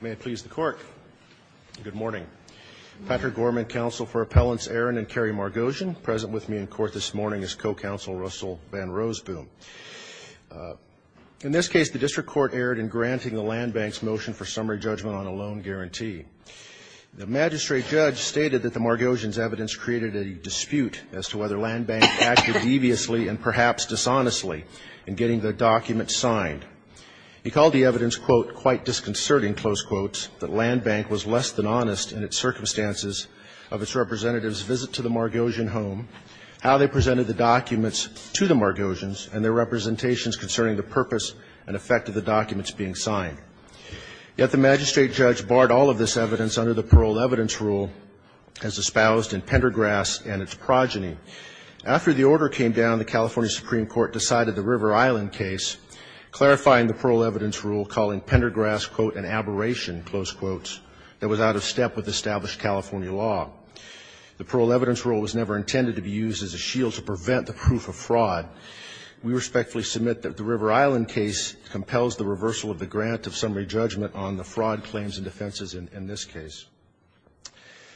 May I please the court? Good morning. Patrick Gorman, counsel for Appellants Aron and Kerry Margosian, present with me in court this morning is co-counsel Russell Van Roosboom. In this case, the district court erred in granting the land bank's motion for summary judgment on a loan guarantee. The magistrate judge stated that the Margosian's evidence created a dispute as to whether land bank acted deviously and perhaps dishonestly in getting the document signed. He called the court's assertion, close quotes, that land bank was less than honest in its circumstances of its representatives' visit to the Margosian home, how they presented the documents to the Margosians, and their representations concerning the purpose and effect of the documents being signed. Yet the magistrate judge barred all of this evidence under the parole evidence rule as espoused in Pendergrass and its progeny. After the order came down, the California Supreme Court decided the River Island case, clarifying the parole evidence rule, calling Pendergrass, quote, an aberration, close quotes, that was out of step with established California law. The parole evidence rule was never intended to be used as a shield to prevent the proof of fraud. We respectfully submit that the River Island case compels the reversal of the grant of summary judgment on the fraud claims and defenses in this case.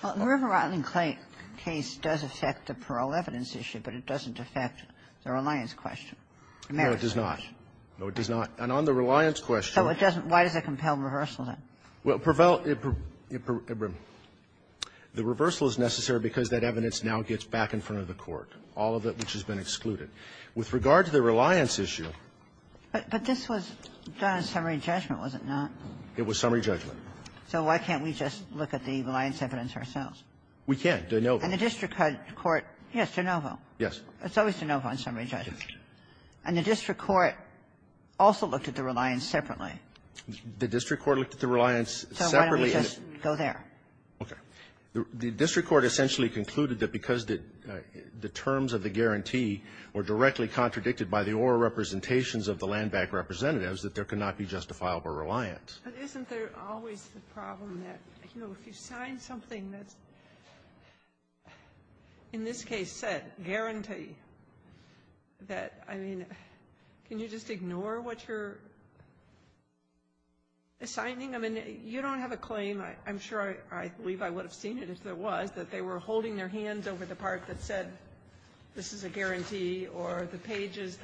Well, the River Island case does affect the parole evidence issue, but it doesn't affect the reliance question. No, it does not. No, it does not. And on the reliance question --" So it doesn't --" why does it compel reversal, then? Well, it prevails --" the reversal is necessary because that evidence now gets back in front of the court, all of it which has been excluded. With regard to the reliance issue --" But this was done on summary judgment, was it not? It was summary judgment. So why can't we just look at the reliance evidence ourselves? We can, de novo. And the district court --" yes, de novo. Yes. It's always de novo on summary judgment. And the district court also looked at the reliance separately. The district court looked at the reliance separately. So why don't we just go there? Okay. The district court essentially concluded that because the terms of the guarantee were directly contradicted by the oral representations of the land-backed representatives, that there could not be justifiable reliance. But isn't there always the problem that, you know, if you sign something that's, in this case, said, guarantee, that, I mean, can you just ignore what you're assigning? I mean, you don't have a claim. I'm sure I believe I would have seen it if there was, that they were holding their hands over the part that said, this is a guarantee, or the pages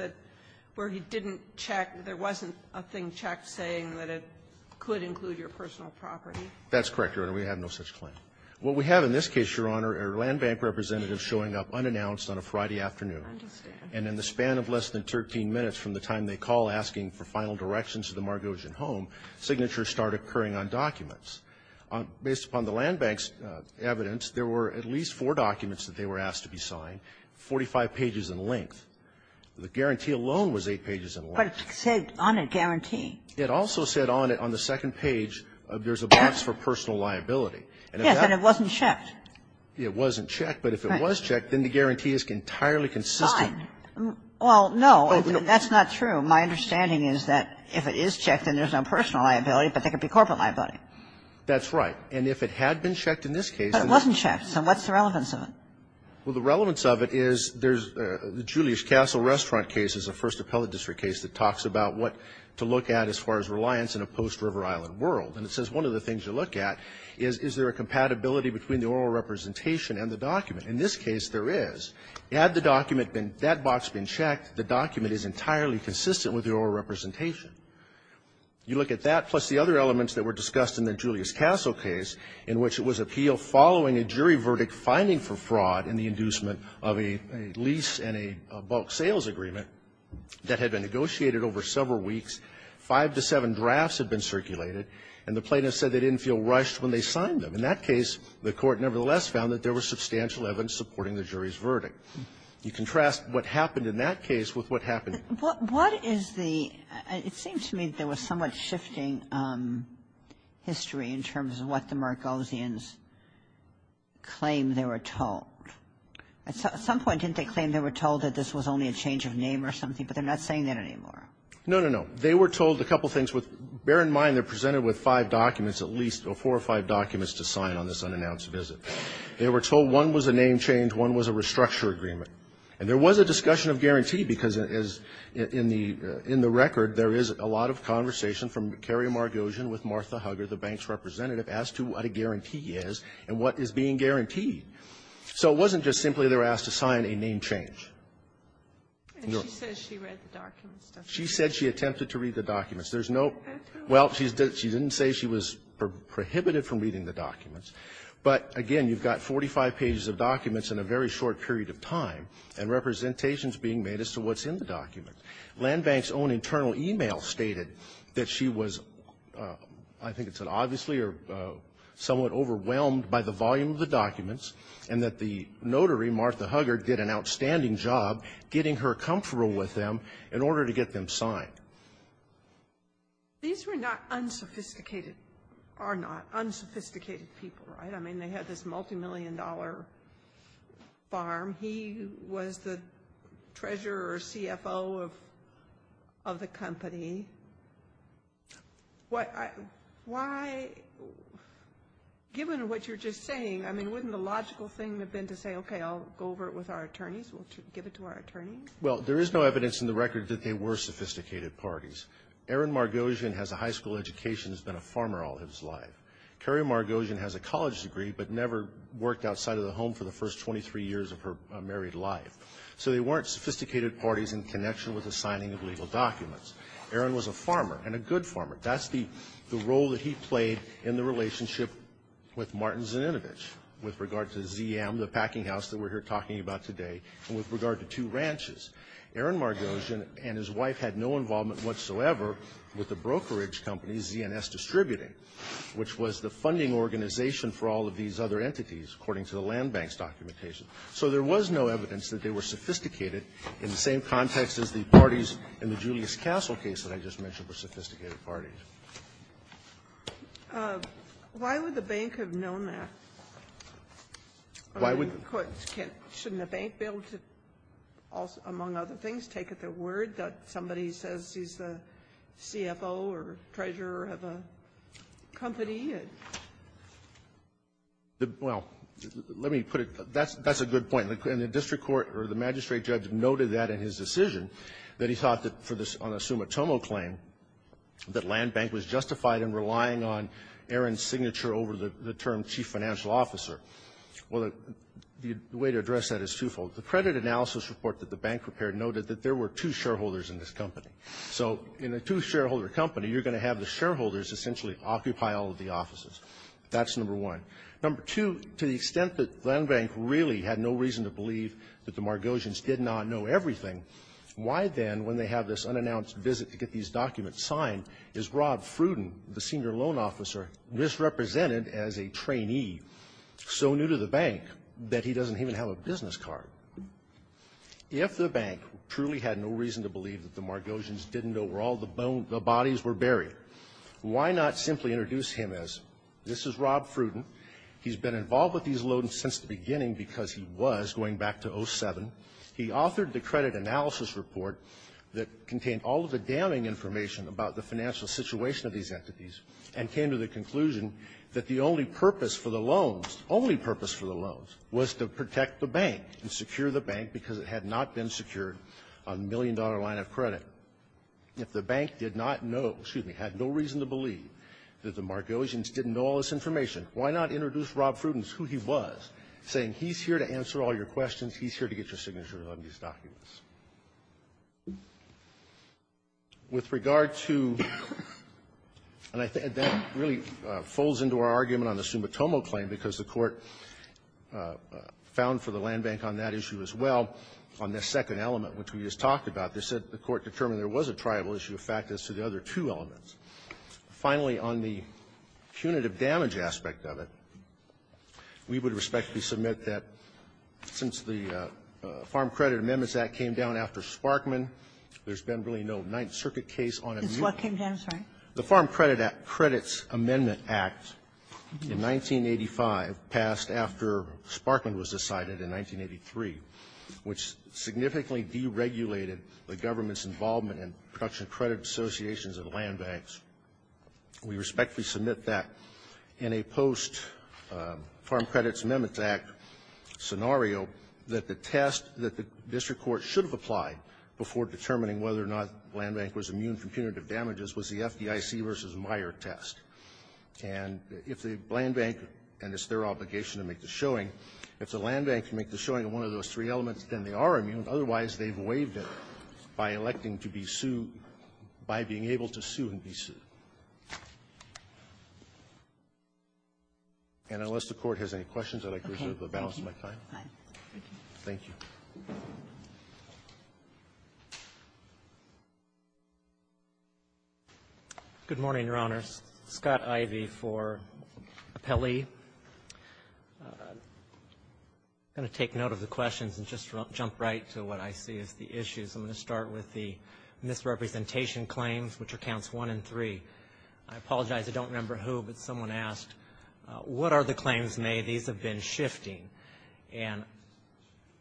where he didn't check, there wasn't a thing checked saying that it could include your personal property. That's correct, Your Honor. We have no such claim. What we have in this case, Your Honor, are land-bank representatives showing up unannounced on a Friday afternoon. I understand. And in the span of less than 13 minutes from the time they call asking for final directions to the Margosian home, signatures start occurring on documents. Based upon the land-bank's evidence, there were at least four documents that they were asked to be signed, 45 pages in length. The guarantee alone was 8 pages in length. But it said on it, guarantee. It also said on it, on the second page, there's a box for personal liability. Yes, but it wasn't checked. It wasn't checked. But if it was checked, then the guarantee is entirely consistent. Well, no, that's not true. My understanding is that if it is checked, then there's no personal liability, but there could be corporate liability. That's right. And if it had been checked in this case and it wasn't checked, then what's the relevance of it? Well, the relevance of it is there's the Julius Castle Restaurant case is the first appellate district case that talks about what to look at as far as reliance in a post-River Island world. And it says one of the things to look at is, is there a compatibility between the oral representation and the document? In this case, there is. Had the document been that box been checked, the document is entirely consistent with the oral representation. You look at that, plus the other elements that were discussed in the Julius Castle case, in which it was appealed following a jury verdict finding for fraud in the inducement of a lease and a bulk sales agreement that had been negotiated over several weeks. Five to seven drafts had been circulated, and the plaintiffs said they didn't feel rushed when they signed them. In that case, the Court nevertheless found that there were substantial evidence supporting the jury's verdict. You contrast what happened in that case with what happened at the court. What is the – it seems to me there was somewhat shifting history in terms of what the Margosians claimed they were told. At some point, didn't they claim they were told that this was only a change of name or something, but they're not saying that anymore? No, no, no. They were told a couple things with – bear in mind, they're presented with five documents, at least four or five documents to sign on this unannounced visit. They were told one was a name change, one was a restructure agreement. And there was a discussion of guarantee, because as in the record, there is a lot of conversation from Kerry Margosian with Martha Hugger, the bank's representative, as to what a guarantee is and what is being guaranteed. So it wasn't just simply they were asked to sign a name change. And she says she read the documents, doesn't she? She said she attempted to read the documents. There's no – well, she didn't say she was prohibited from reading the documents. But again, you've got 45 pages of documents in a very short period of time, and representations being made as to what's in the documents. Land Bank's own internal e-mail stated that she was, I think it said, obviously or somewhat overwhelmed by the volume of the documents and that the notary, Martha Hugger, did an outstanding job getting her comfortable with them in order to get them signed. These were not unsophisticated – are not unsophisticated people, right? I mean, they had this multimillion-dollar farm. He was the treasurer or CFO of the company. Why – given what you're just saying, I mean, wouldn't the logical thing have been to say, okay, I'll go over it with our attorneys, we'll give it to our attorneys? Well, there is no evidence in the record that they were sophisticated parties. Erin Margosian has a high school education, has been a farmer all his life. Carrie Margosian has a college degree but never worked outside of the home for the first 23 years of her married life. So they weren't sophisticated parties in connection with the signing of legal documents. Erin was a farmer and a good farmer. That's the role that he played in the relationship with Martin Zininovich with regard to ZM, the packinghouse that we're here talking about today, and with regard to two ranches. Erin Margosian and his wife had no involvement whatsoever with the brokerage company, ZNS Distributing, which was the funding organization for all of these other entities, according to the land bank's documentation. So there was no evidence that they were sophisticated in the same context as the parties in the Julius Castle case that I just mentioned were sophisticated parties. Why would the bank have known that? Why would the bank be able to, among other things, take at their word that somebody says he's the CFO or treasurer of a company? Well, let me put it that way. That's a good point. And the district court or the magistrate judge noted that in his decision, that he thought that for the summa tomo claim, that land bank was justified in relying on Erin's signature over the term chief financial officer. Well, the way to address that is twofold. The credit analysis report that the bank prepared noted that there were two shareholders in this company. So in a two-shareholder company, you're going to have the shareholders essentially occupy all of the offices. That's number one. Number two, to the extent that land bank really had no reason to believe that the Margosians did not know everything, why then, when they have this unannounced visit to get these documents signed, is Rob Fruden, the senior loan officer, misrepresented as a trainee, so new to the bank that he doesn't even have a business card? If the bank truly had no reason to believe that the Margosians didn't know where all the bodies were buried, why not simply introduce him as, this is Rob Fruden, he's been involved with these loans since the beginning because he was, going back to 07, he authored the credit analysis report that contained all of the damning information about the financial situation of these entities, and came to the conclusion that the only purpose for the loans, only purpose for the loans, was to protect the bank and secure the bank because it had not been secured on the million-dollar line of credit. If the bank did not know, excuse me, had no reason to believe that the Margosians didn't know all this information, why not introduce Rob Fruden as who he was, saying he's here to answer all your questions, he's here to get your signatures on these documents? With regard to the next thing, that really folds into our argument on the Sumitomo claim because the Court found for the land bank on that issue as well on this second element, which we just talked about, they said the Court determined there was a tribal issue, a fact as to the other two elements. Finally, on the punitive damage aspect of it, we would respectfully submit that since the Farm Credit Amendments Act came down after Sparkman, there's been really no Ninth Circuit case on it. Ginsburg. Ginsburg. It's what came down, sorry? The Farm Credit Act, Credits Amendment Act, in 1985, passed after Sparkman was decided in 1983, which significantly deregulated the government's involvement in production credit associations and land banks. We respectfully submit that in a post-Farm Credits Amendments Act scenario that the test that the district court should have applied before determining whether or not land bank was immune from punitive damages was the FDIC v. Meyer test. And if the land bank, and it's their obligation to make the showing, if the land bank can make the showing on one of those three elements, then they are immune. Otherwise, they've waived it by electing to be sued by being able to sue and be sued. And unless the Court has any questions, I'd like to reserve the balance of my time. Thank you. Thank you. Good morning, Your Honors. Scott Ivey for Appellee. I'm going to take note of the questions and just jump right to what I see as the issues. I'm going to start with the misrepresentation claims, which are counts 1 and 3. I apologize. I don't remember who, but someone asked, what are the claims made? These have been shifting. And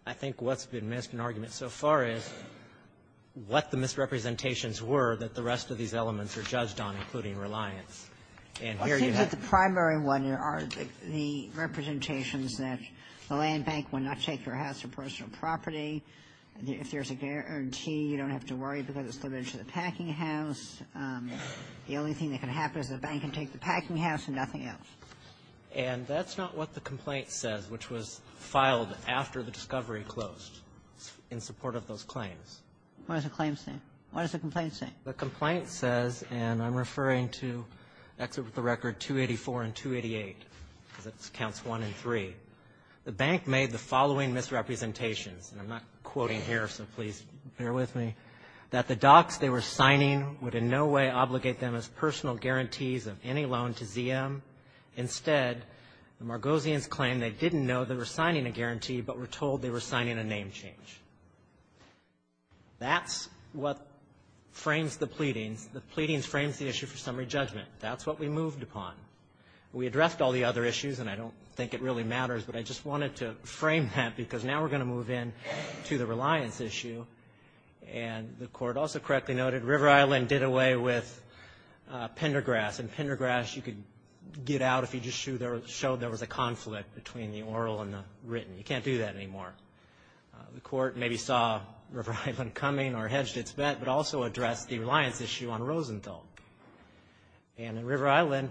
I think what's been missed in argument so far is what the misrepresentations were that the rest of these elements are judged on, including reliance. And here you have the primary one, the representations that the land bank will not take your house for personal property. If there's a guarantee, you don't have to worry because it's limited to the packing house. The only thing that can happen is the bank can take the packing house and nothing else. And that's not what the complaint says, which was filed after the discovery closed in support of those claims. What does the claim say? What does the complaint say? The complaint says, and I'm referring to Exit with the Record 284 and 288, because it's counts 1 and 3, the bank made the following misrepresentations, and I'm not quoting here, so please bear with me, that the docs they were signing would in no way obligate them as personal guarantees of any loan to ZM. Instead, the Margosians claimed they didn't know they were signing a guarantee, but were told they were signing a name change. That's what frames the pleadings. The pleadings frames the issue for summary judgment. That's what we moved upon. We addressed all the other issues, and I don't think it really matters, but I just wanted to frame that because now we're going to move in to the reliance issue. And the court also correctly noted River Island did away with Pendergrass, and Pendergrass you could get out if you just showed there was a conflict between the oral and the written. You can't do that anymore. The court maybe saw River Island coming or hedged its bet, but also addressed the reliance issue on Rosenthal. And in River Island,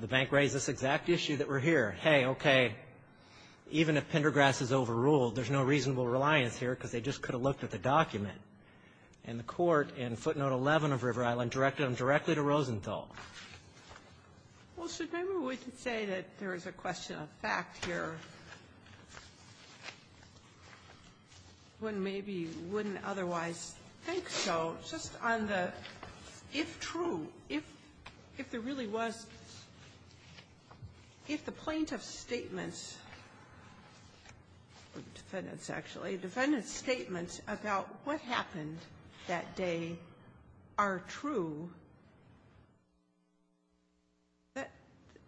the bank raised this exact issue that we're here. Hey, okay, even if Pendergrass is overruled, there's no reasonable reliance here because they just could have looked at the document. And the court in footnote 11 of River Island directed them directly to Rosenthal. Well, so maybe we can say that there is a question of fact here. One maybe wouldn't otherwise think so. Just on the if true, if there really was, if the plaintiff's statements, defendant's actually, defendant's statements about what happened that day are true, that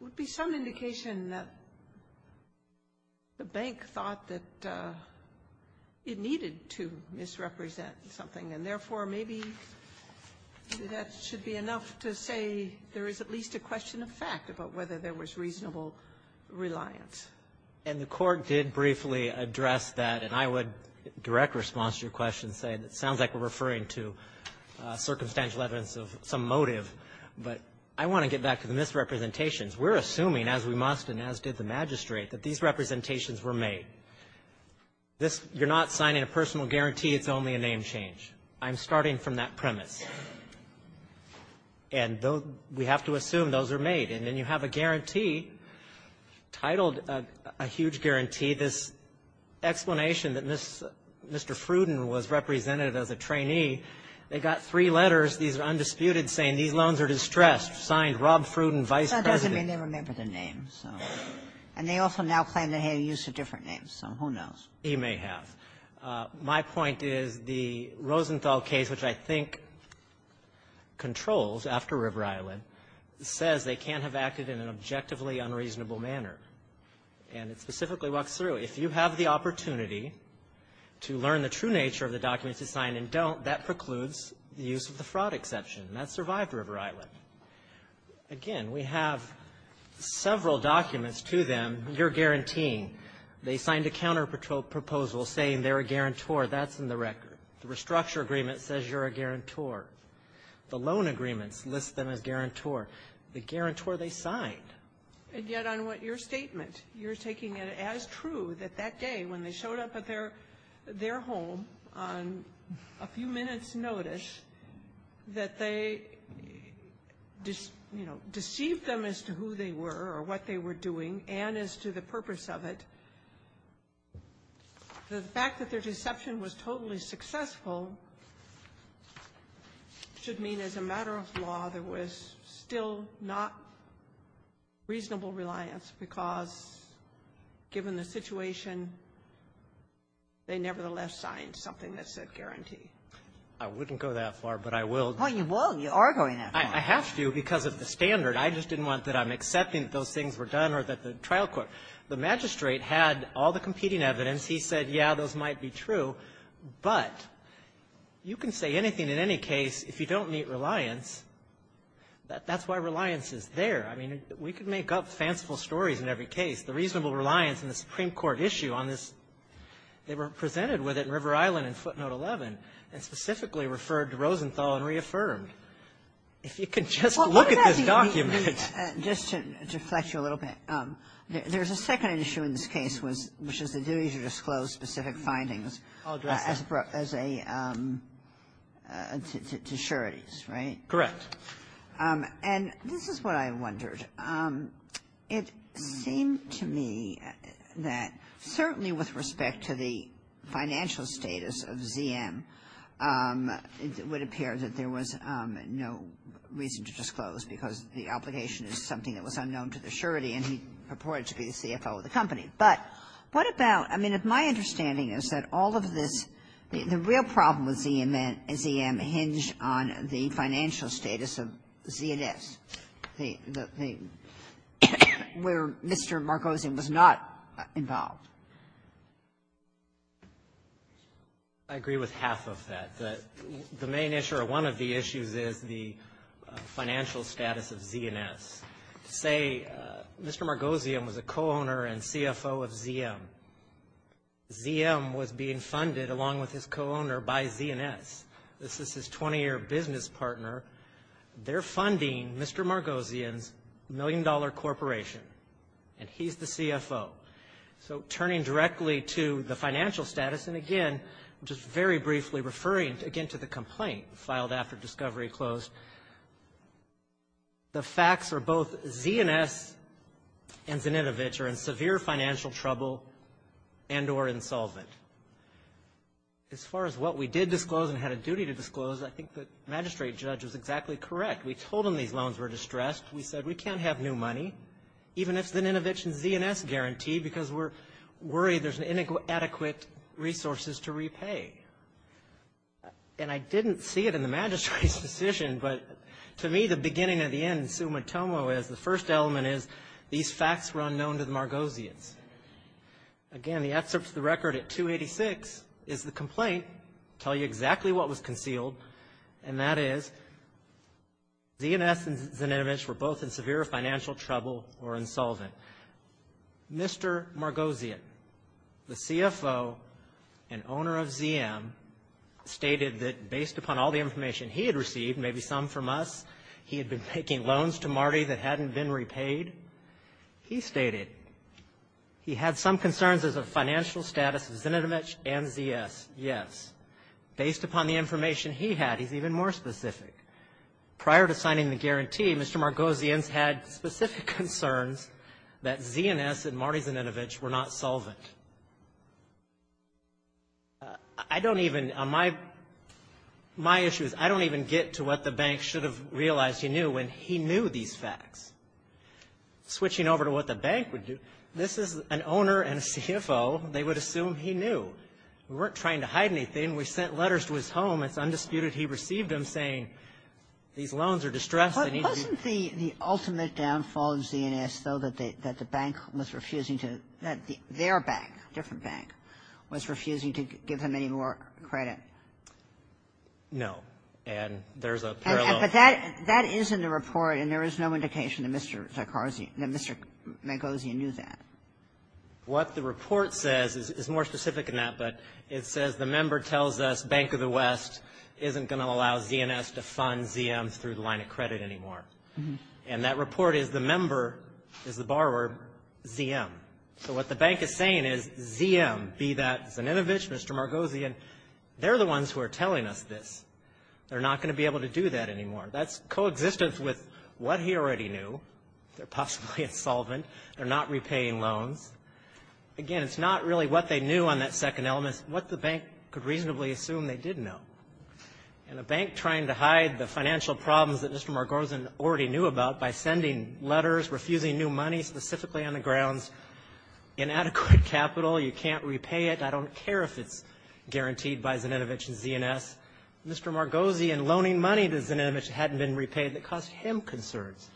would be some indication that the bank thought that it needed to misrepresent something, and therefore, maybe that should be enough to say there is at least a question of fact about whether there was reasonable reliance. And the court did briefly address that, and I would direct response to your question saying it sounds like we're referring to circumstantial evidence of some motive, but I want to get back to the misrepresentations. We're assuming, as we must and as did the magistrate, that these representations were made. You're not signing a personal guarantee. I'm starting from that premise. And we have to assume those are made. And then you have a guarantee titled, a huge guarantee, this explanation that Mr. Fruden was represented as a trainee. They got three letters, these are undisputed, saying these loans are distressed, signed Rob Fruden, Vice President. And they also now claim they have use of different names, so who knows? You may have. My point is the Rosenthal case, which I think controls after River Island, says they can't have acted in an objectively unreasonable manner. And it specifically walks through. If you have the opportunity to learn the true nature of the documents you signed and don't, that precludes the use of the fraud exception. And that survived River Island. Again, we have several documents to them, you're guaranteeing. They signed a counterproposal saying they're a guarantor. That's in the record. The restructure agreement says you're a guarantor. The loan agreements list them as guarantor. The guarantor they signed. And yet on what your statement, you're taking it as true that that day when they showed up at their home on a few minutes' notice, that they, you know, deceived them as to who they were or what they were doing and as to the purpose of it. The fact that their deception was totally successful should mean as a matter of law there was still not reasonable reliance because, given the situation, they nevertheless signed something that said guarantee. I wouldn't go that far, but I will. Well, you will. You are going that far. I have to because of the standard. I just didn't want that I'm accepting that those things were done or that the trial court. The magistrate had all the competing evidence. He said, yeah, those might be true. But you can say anything in any case if you don't meet reliance. That's why reliance is there. I mean, we can make up fanciful stories in every case. The reasonable reliance in the Supreme Court issue on this, they were presented with it in River Island in footnote 11 and specifically referred to Rosenthal and reaffirmed. If you could just look at this document. Just to deflect you a little bit, there's a second issue in this case, which is the duty to disclose specific findings as a to sureties, right? Correct. And this is what I wondered. It seemed to me that certainly with respect to the financial status of ZM, it would appear that there was no reason to disclose because the application is something that was unknown to the surety, and he purported to be the CFO of the company. But what about my understanding is that all of this, the real problem with ZM hinged on the financial status of ZS, the thing where Mr. Marcosin was not involved. I agree with half of that. The main issue or one of the issues is the financial status of ZNS. Say Mr. Marcosin was a co-owner and CFO of ZM. ZM was being funded along with his co-owner by ZNS. This is his 20-year business partner. They're funding Mr. Marcosin's million-dollar corporation, and he's the CFO. So turning directly to the financial status, and again, just very briefly referring again to the complaint filed after discovery closed, the facts are both ZNS and Zninovich are in severe financial trouble and or insolvent. As far as what we did disclose and had a duty to disclose, I think the magistrate judge was exactly correct. We told him these loans were distressed. We said we can't have new money, even if Zninovich and ZNS guarantee, because we're worried there's inadequate resources to repay. And I didn't see it in the magistrate's decision, but to me, the beginning and the end summa tomo is the first element is these facts were unknown to the Margosians. Again, the excerpts of the record at 286 is the complaint, tell you exactly what was concealed, and that is ZNS and Zninovich were both in severe financial trouble or insolvent. Mr. Margosian, the CFO and owner of ZM, stated that based upon all the information he had received, maybe some from us, he had been taking loans to Marty that hadn't been repaid. He stated he had some concerns as a financial status of Zninovich and ZS, yes. Based upon the information he had, he's even more specific. Prior to signing the guarantee, Mr. Margosian's had specific concerns that ZNS and Marty Zninovich were not solvent. I don't even, my issue is I don't even get to what the bank should have realized he knew when he knew these facts. Switching over to what the bank would do, this is an owner and a CFO, they would assume he weren't trying to hide anything. We sent letters to his home. It's undisputed he received them, saying these loans are distressed. They need to be ---- Kagan. Wasn't the ultimate downfall of ZNS, though, that the bank was refusing to, that their bank, different bank, was refusing to give them any more credit? No. And there's a parallel ---- But that is in the report, and there is no indication that Mr. Zarkarzi, that Mr. Margosian knew that. What the report says is more specific than that, but it says the member tells us Bank of the West isn't going to allow ZNS to fund ZMs through the line of credit anymore. And that report is the member, is the borrower, ZM. So what the bank is saying is ZM, be that Zninovich, Mr. Margosian, they're the ones who are telling us this. They're not going to be able to do that anymore. That's coexistence with what he already knew. They're possibly insolvent. They're not repaying loans. Again, it's not really what they knew on that second element. It's what the bank could reasonably assume they did know. And a bank trying to hide the financial problems that Mr. Margosian already knew about by sending letters, refusing new money specifically on the grounds, inadequate capital, you can't repay it, I don't care if it's guaranteed by Zninovich and ZNS. Mr. Margosian loaning money to Zninovich that hadn't been repaid that caused him concerns.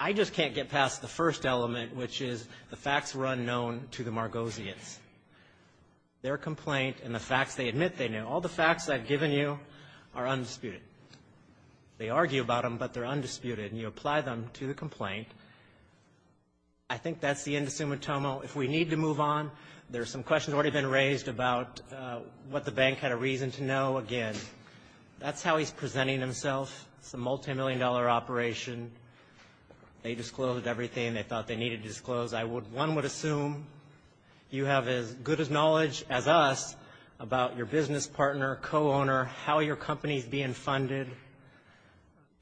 I just can't get past the first element, which is the facts were unknown to the Margosians. Their complaint and the facts they admit they knew, all the facts I've given you are undisputed. They argue about them, but they're undisputed, and you apply them to the complaint. I think that's the end of Sumitomo. If we need to move on, there's some questions already been raised about what the bank had a reason to know. Again, that's how he's presenting himself. It's a multimillion-dollar operation. They disclosed everything they thought they needed to disclose. I would one would assume you have as good a knowledge as us about your business partner, co-owner, how your company's being funded.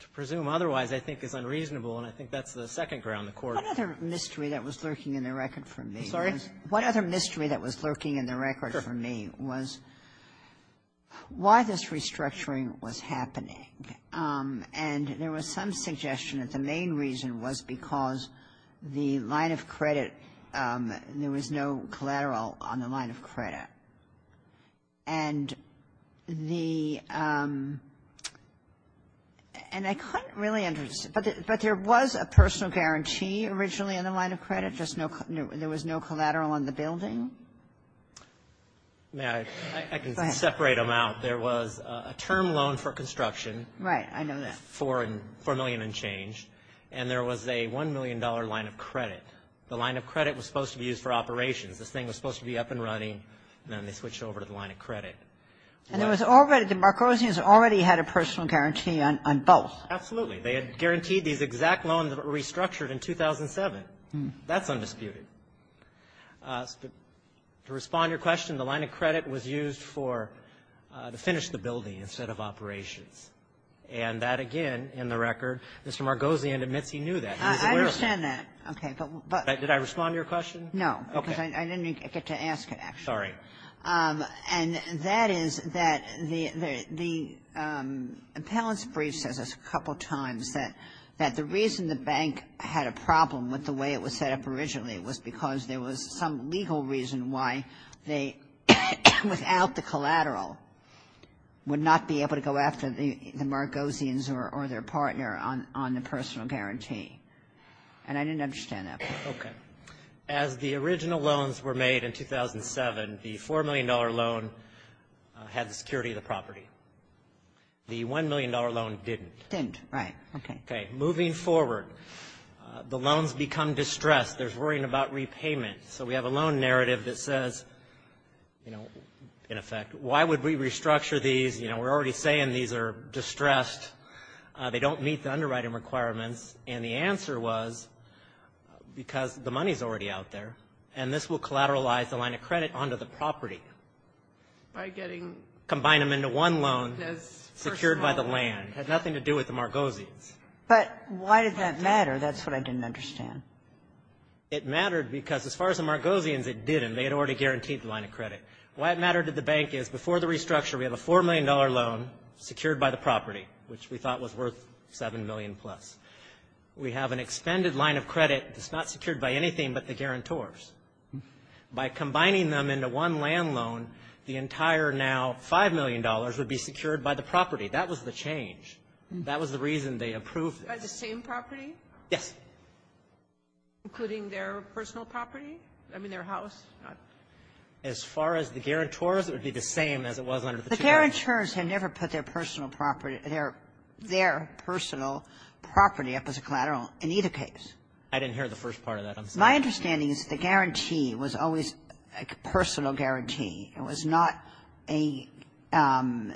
To presume otherwise, I think, is unreasonable, and I think that's the second ground the Court has. Kagan in the record for me. I'm sorry? One other mystery that was lurking in the record for me was why this restructuring was happening, and there was some suggestion that the main reason was because the line of credit, there was no collateral on the line of credit. And the and I couldn't really understand, but there was a personal guarantee originally on the line of credit, there was no collateral on the building? May I? I can separate them out. There was a term loan for construction. Right. I know that. $4 million and change. And there was a $1 million line of credit. The line of credit was supposed to be used for operations. This thing was supposed to be up and running, and then they switched over to the line of credit. And there was already the Marcosians already had a personal guarantee on both. Absolutely. They had guaranteed these exact loans that were restructured in 2007. That's undisputed. To respond to your question, the line of credit was used for to finish the building instead of operations. And that, again, in the record, Mr. Margosian admits he knew that. He was aware of it. I understand that. Okay. But what But did I respond to your question? No. Okay. Because I didn't get to ask it, actually. Sorry. And that is that the appellant's brief says a couple times that the reason the bank had a problem with the way it was set up originally was because there was some legal reason why they, without the collateral, would not be able to go after the Margosians or their partner on the personal guarantee. And I didn't understand that. Okay. As the original loans were made in 2007, the $4 million loan had the security of the property. The $1 million loan didn't. Didn't. Right. Okay. Okay. Moving forward, the loans become distressed. There's worrying about repayment. So we have a loan narrative that says, you know, in effect, why would we restructure these? You know, we're already saying these are distressed. They don't meet the underwriting requirements. And the answer was because the money's already out there. And this will collateralize the line of credit onto the property. By getting. Combine them into one loan. As. Secured by the land. Had nothing to do with the Margosians. But why did that matter? That's what I didn't understand. It mattered because as far as the Margosians, it didn't. They had already guaranteed the line of credit. Why it mattered to the bank is, before the restructure, we have a $4 million loan secured by the property, which we thought was worth $7 million plus. We have an expended line of credit that's not secured by anything but the guarantors. By combining them into one land loan, the entire now $5 million would be secured by the property. That was the change. That was the reason they approved it. By the same property? Yes. Including their personal property? I mean, their house? As far as the guarantors, it would be the same as it was under the two loans. The guarantors had never put their personal property up as a collateral in either case. I didn't hear the first part of that. My understanding is the guarantee was always a personal guarantee. It was not a lien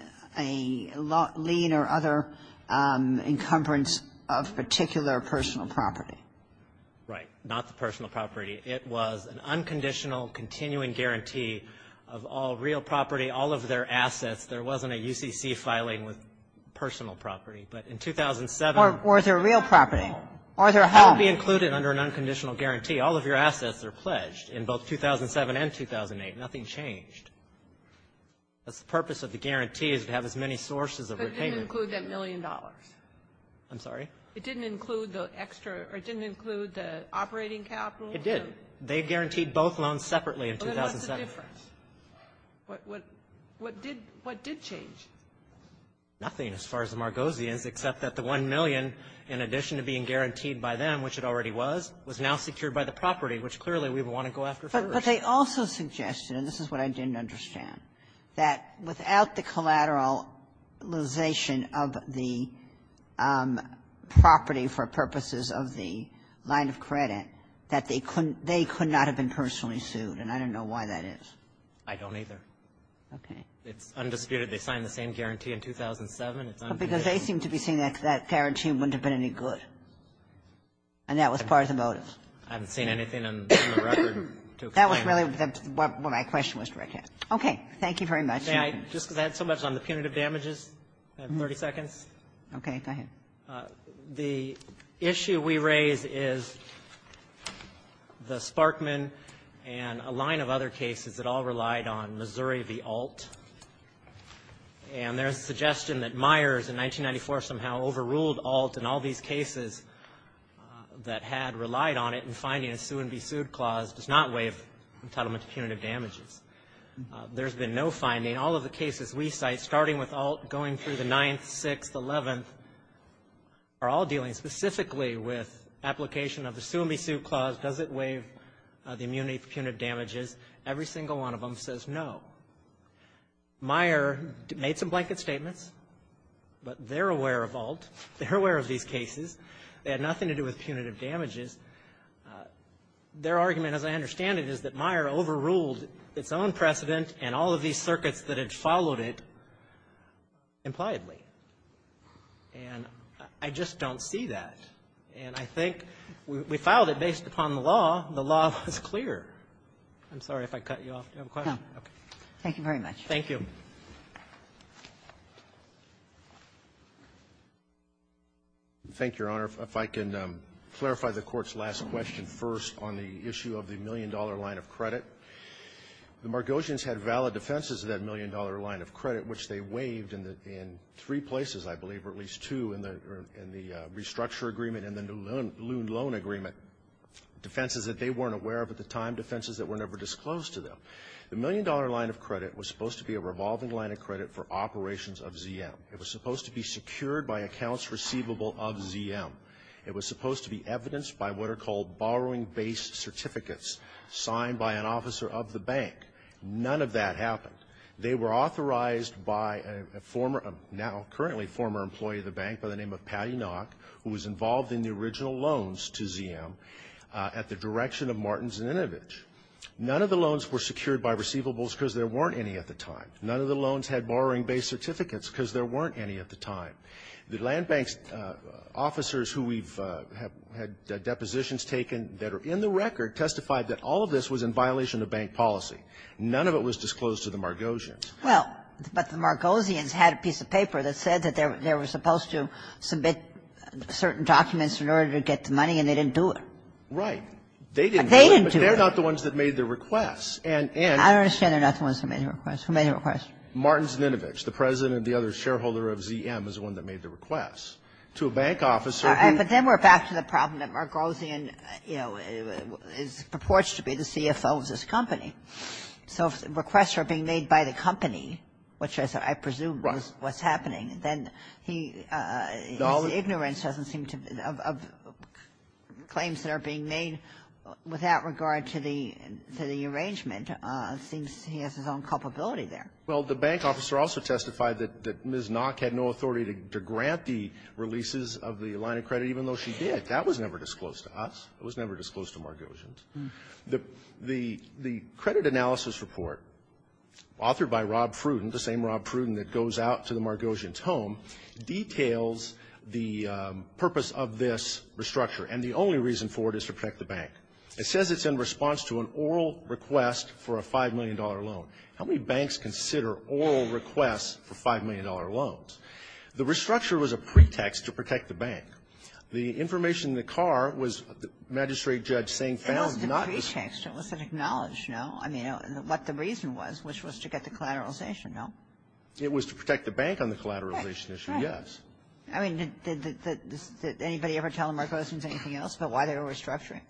or other encumbrance of particular personal property. Right. Not the personal property. It was an unconditional, continuing guarantee of all real property, all of their assets. There wasn't a UCC filing with personal property. But in 2007 or their real property or their home. That would be included under an unconditional guarantee. All of your assets are pledged in both 2007 and 2008. Nothing changed. That's the purpose of the guarantee, is to have as many sources of repayment. But it didn't include that million dollars. I'm sorry? It didn't include the extra or it didn't include the operating capital? It did. They guaranteed both loans separately in 2007. But what's the difference? What did change? Nothing as far as the Margozians, except that the 1 million, in addition to being guaranteed by them, which it already was, was now secured by the property, which clearly we would want to go after first. But they also suggested, and this is what I didn't understand, that without the collateralization of the property for purposes of the line of credit, that they couldn't they could not have been personally sued. And I don't know why that is. I don't, either. Okay. It's undisputed. They signed the same guarantee in 2007. It's undisputed. But because they seem to be saying that that guarantee wouldn't have been any good. And that was part of the motive. I haven't seen anything on the record to explain that. That was really what my question was directed at. Okay. Thank you very much. May I, just because I had so much on the punitive damages, I have 30 seconds? Okay. Go ahead. The issue we raise is the Sparkman and a line of other cases that all relied on Missouri v. Alt. And there's a suggestion that Myers in 1994 somehow overruled Alt in all these cases that had relied on it in finding a sue-and-be-sued clause does not waive entitlement to punitive damages. There's been no finding. All of the cases we cite, starting with Alt, going through the 9th, 6th, 11th, are all dealing specifically with application of the sue-and-be-sued clause. Does it waive the immunity for punitive damages? Every single one of them says no. Myers made some blanket statements, but they're aware of Alt. They're aware of these cases. They had nothing to do with punitive damages. Their argument, as I understand it, is that Myers overruled its own precedent and all of these circuits that had followed it impliedly. And I just don't see that. And I think we filed it based upon the law. The law was clear. I'm sorry if I cut you off. Do you have a question? Okay. Thank you very much. Thank you. Thank you, Your Honor. If I can clarify the Court's last question first on the issue of the million-dollar line of credit. The Margosians had valid defenses of that million-dollar line of credit, which they waived in three places, I believe, or at least two in the restructure agreement and the new loan agreement, defenses that they weren't aware of at the time, defenses that were never disclosed to them. The million-dollar line of credit was supposed to be a revolving line of credit for operations of ZM. It was supposed to be secured by accounts receivable of ZM. It was supposed to be evidenced by what are called borrowing-based certificates signed by an officer of the bank. None of that happened. They were authorized by a former, now currently former employee of the bank by the name of Pally Knock, who was involved in the original loans to ZM at the direction of Martins and Inovich. None of the loans were secured by receivables because there weren't any at the time. None of the loans had borrowing-based certificates because there weren't any at the time. The land bank's officers who we've had depositions taken that are in the record testified that all of this was in violation of bank policy. None of it was disclosed to the Margosians. Well, but the Margosians had a piece of paper that said that they were supposed to submit certain documents in order to get the money, and they didn't do it. Right. They didn't do it. But they're not the ones that made the requests. And in the case of ZM, they're not the ones that made the requests. Who made the requests? Martins and Inovich. The President and the other shareholder of ZM is the one that made the requests. To a bank officer who was supposed to be the CFO of this company. So if the requests are being made by the company, which I presume was what's happening, then he's ignorance doesn't seem to be of claims that are being made with that regarding the arrangement. It seems he has his own culpability there. Well, the bank officer also testified that Ms. Nock had no authority to grant the releases of the line of credit, even though she did. That was never disclosed to us. It was never disclosed to Margosians. The credit analysis report authored by Rob Pruden, the same Rob Pruden that goes out to the Margosians' home, details the purpose of this restructure. And the only reason for it is to protect the bank. It says it's in response to an oral request for a $5 million loan. How many banks consider oral requests for $5 million loans? The restructure was a pretext to protect the bank. The information in the car was the magistrate judge saying found not to be the same. It was the pretext. It wasn't acknowledged, no? I mean, what the reason was, which was to get the collateralization, no? It was to protect the bank on the collateralization issue, yes. I mean, did anybody ever tell the Margosians anything else about why they were restructuring?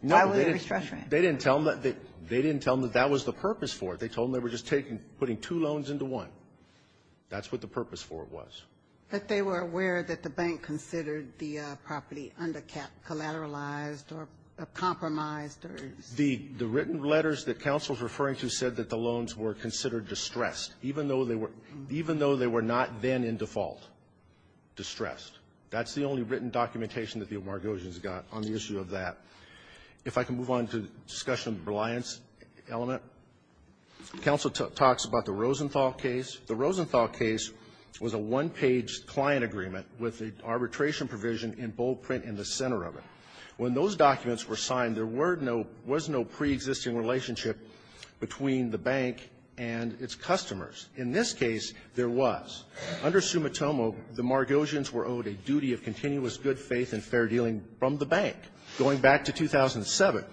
Why were they restructuring? They didn't tell them that that was the purpose for it. They told them they were just taking, putting two loans into one. That's what the purpose for it was. But they were aware that the bank considered the property under collateralized or compromised or something? The written letters that counsel is referring to said that the loans were considered distressed, even though they were not then in default, distressed. That's the only written documentation that the Margosians got on the issue of that. If I can move on to discussion of the reliance element, counsel talks about the Rosenthal case. The Rosenthal case was a one-page client agreement with an arbitration provision in bold print in the center of it. When those documents were signed, there were no pre-existing relationship between the bank and its customers. In this case, there was. Under Sumitomo, the Margosians were owed a duty of continuous good faith and fair dealing from the bank. Going back to 2007,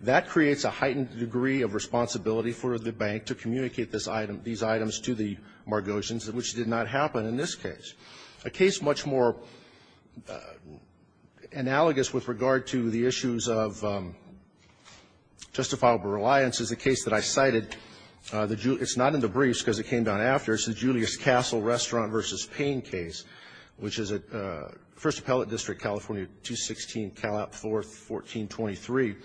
that creates a heightened degree of responsibility for the bank to communicate this item, these items to the Margosians, which did not happen in this case. A case much more analogous with regard to the issues of justifiable reliance is a case that I cited. It's not in the briefs because it came down after. It's the Julius Castle Restaurant v. Payne case, which is at First Appellate District, California, 216, Calap, 4th, 1423.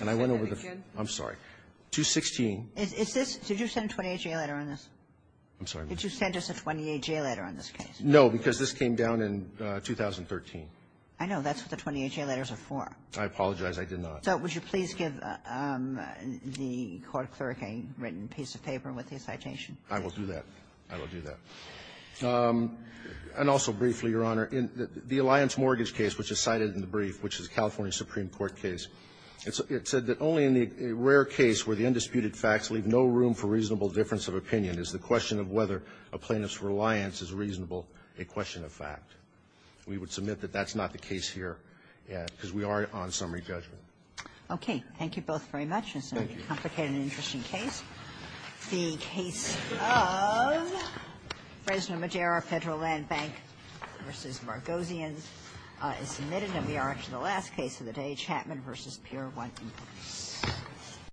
And I went over the ---- Kagan. I'm sorry. 216. Is this ---- Did you send a 28-J letter on this? I'm sorry, ma'am. Did you send us a 28-J letter on this case? No, because this came down in 2013. I know. That's what the 28-J letters are for. I apologize. I did not. So would you please give the court clerk a written piece of paper with the citation? I will do that. I will do that. And also briefly, Your Honor, in the Alliance mortgage case, which is cited in the brief, which is a California Supreme Court case, it said that only in the rare case where the undisputed facts leave no room for reasonable difference of opinion is the question of whether a plaintiff's reliance is reasonable a question of fact. We would submit that that's not the case here, because we are on summary judgment. Okay. Thank you both very much. Thank you. It's a very complicated and interesting case. The case of Fresno Madera, Federal Land Bank v. Margozian is submitted. And we are up to the last case of the day, Chapman v. Pier 1 in Paris.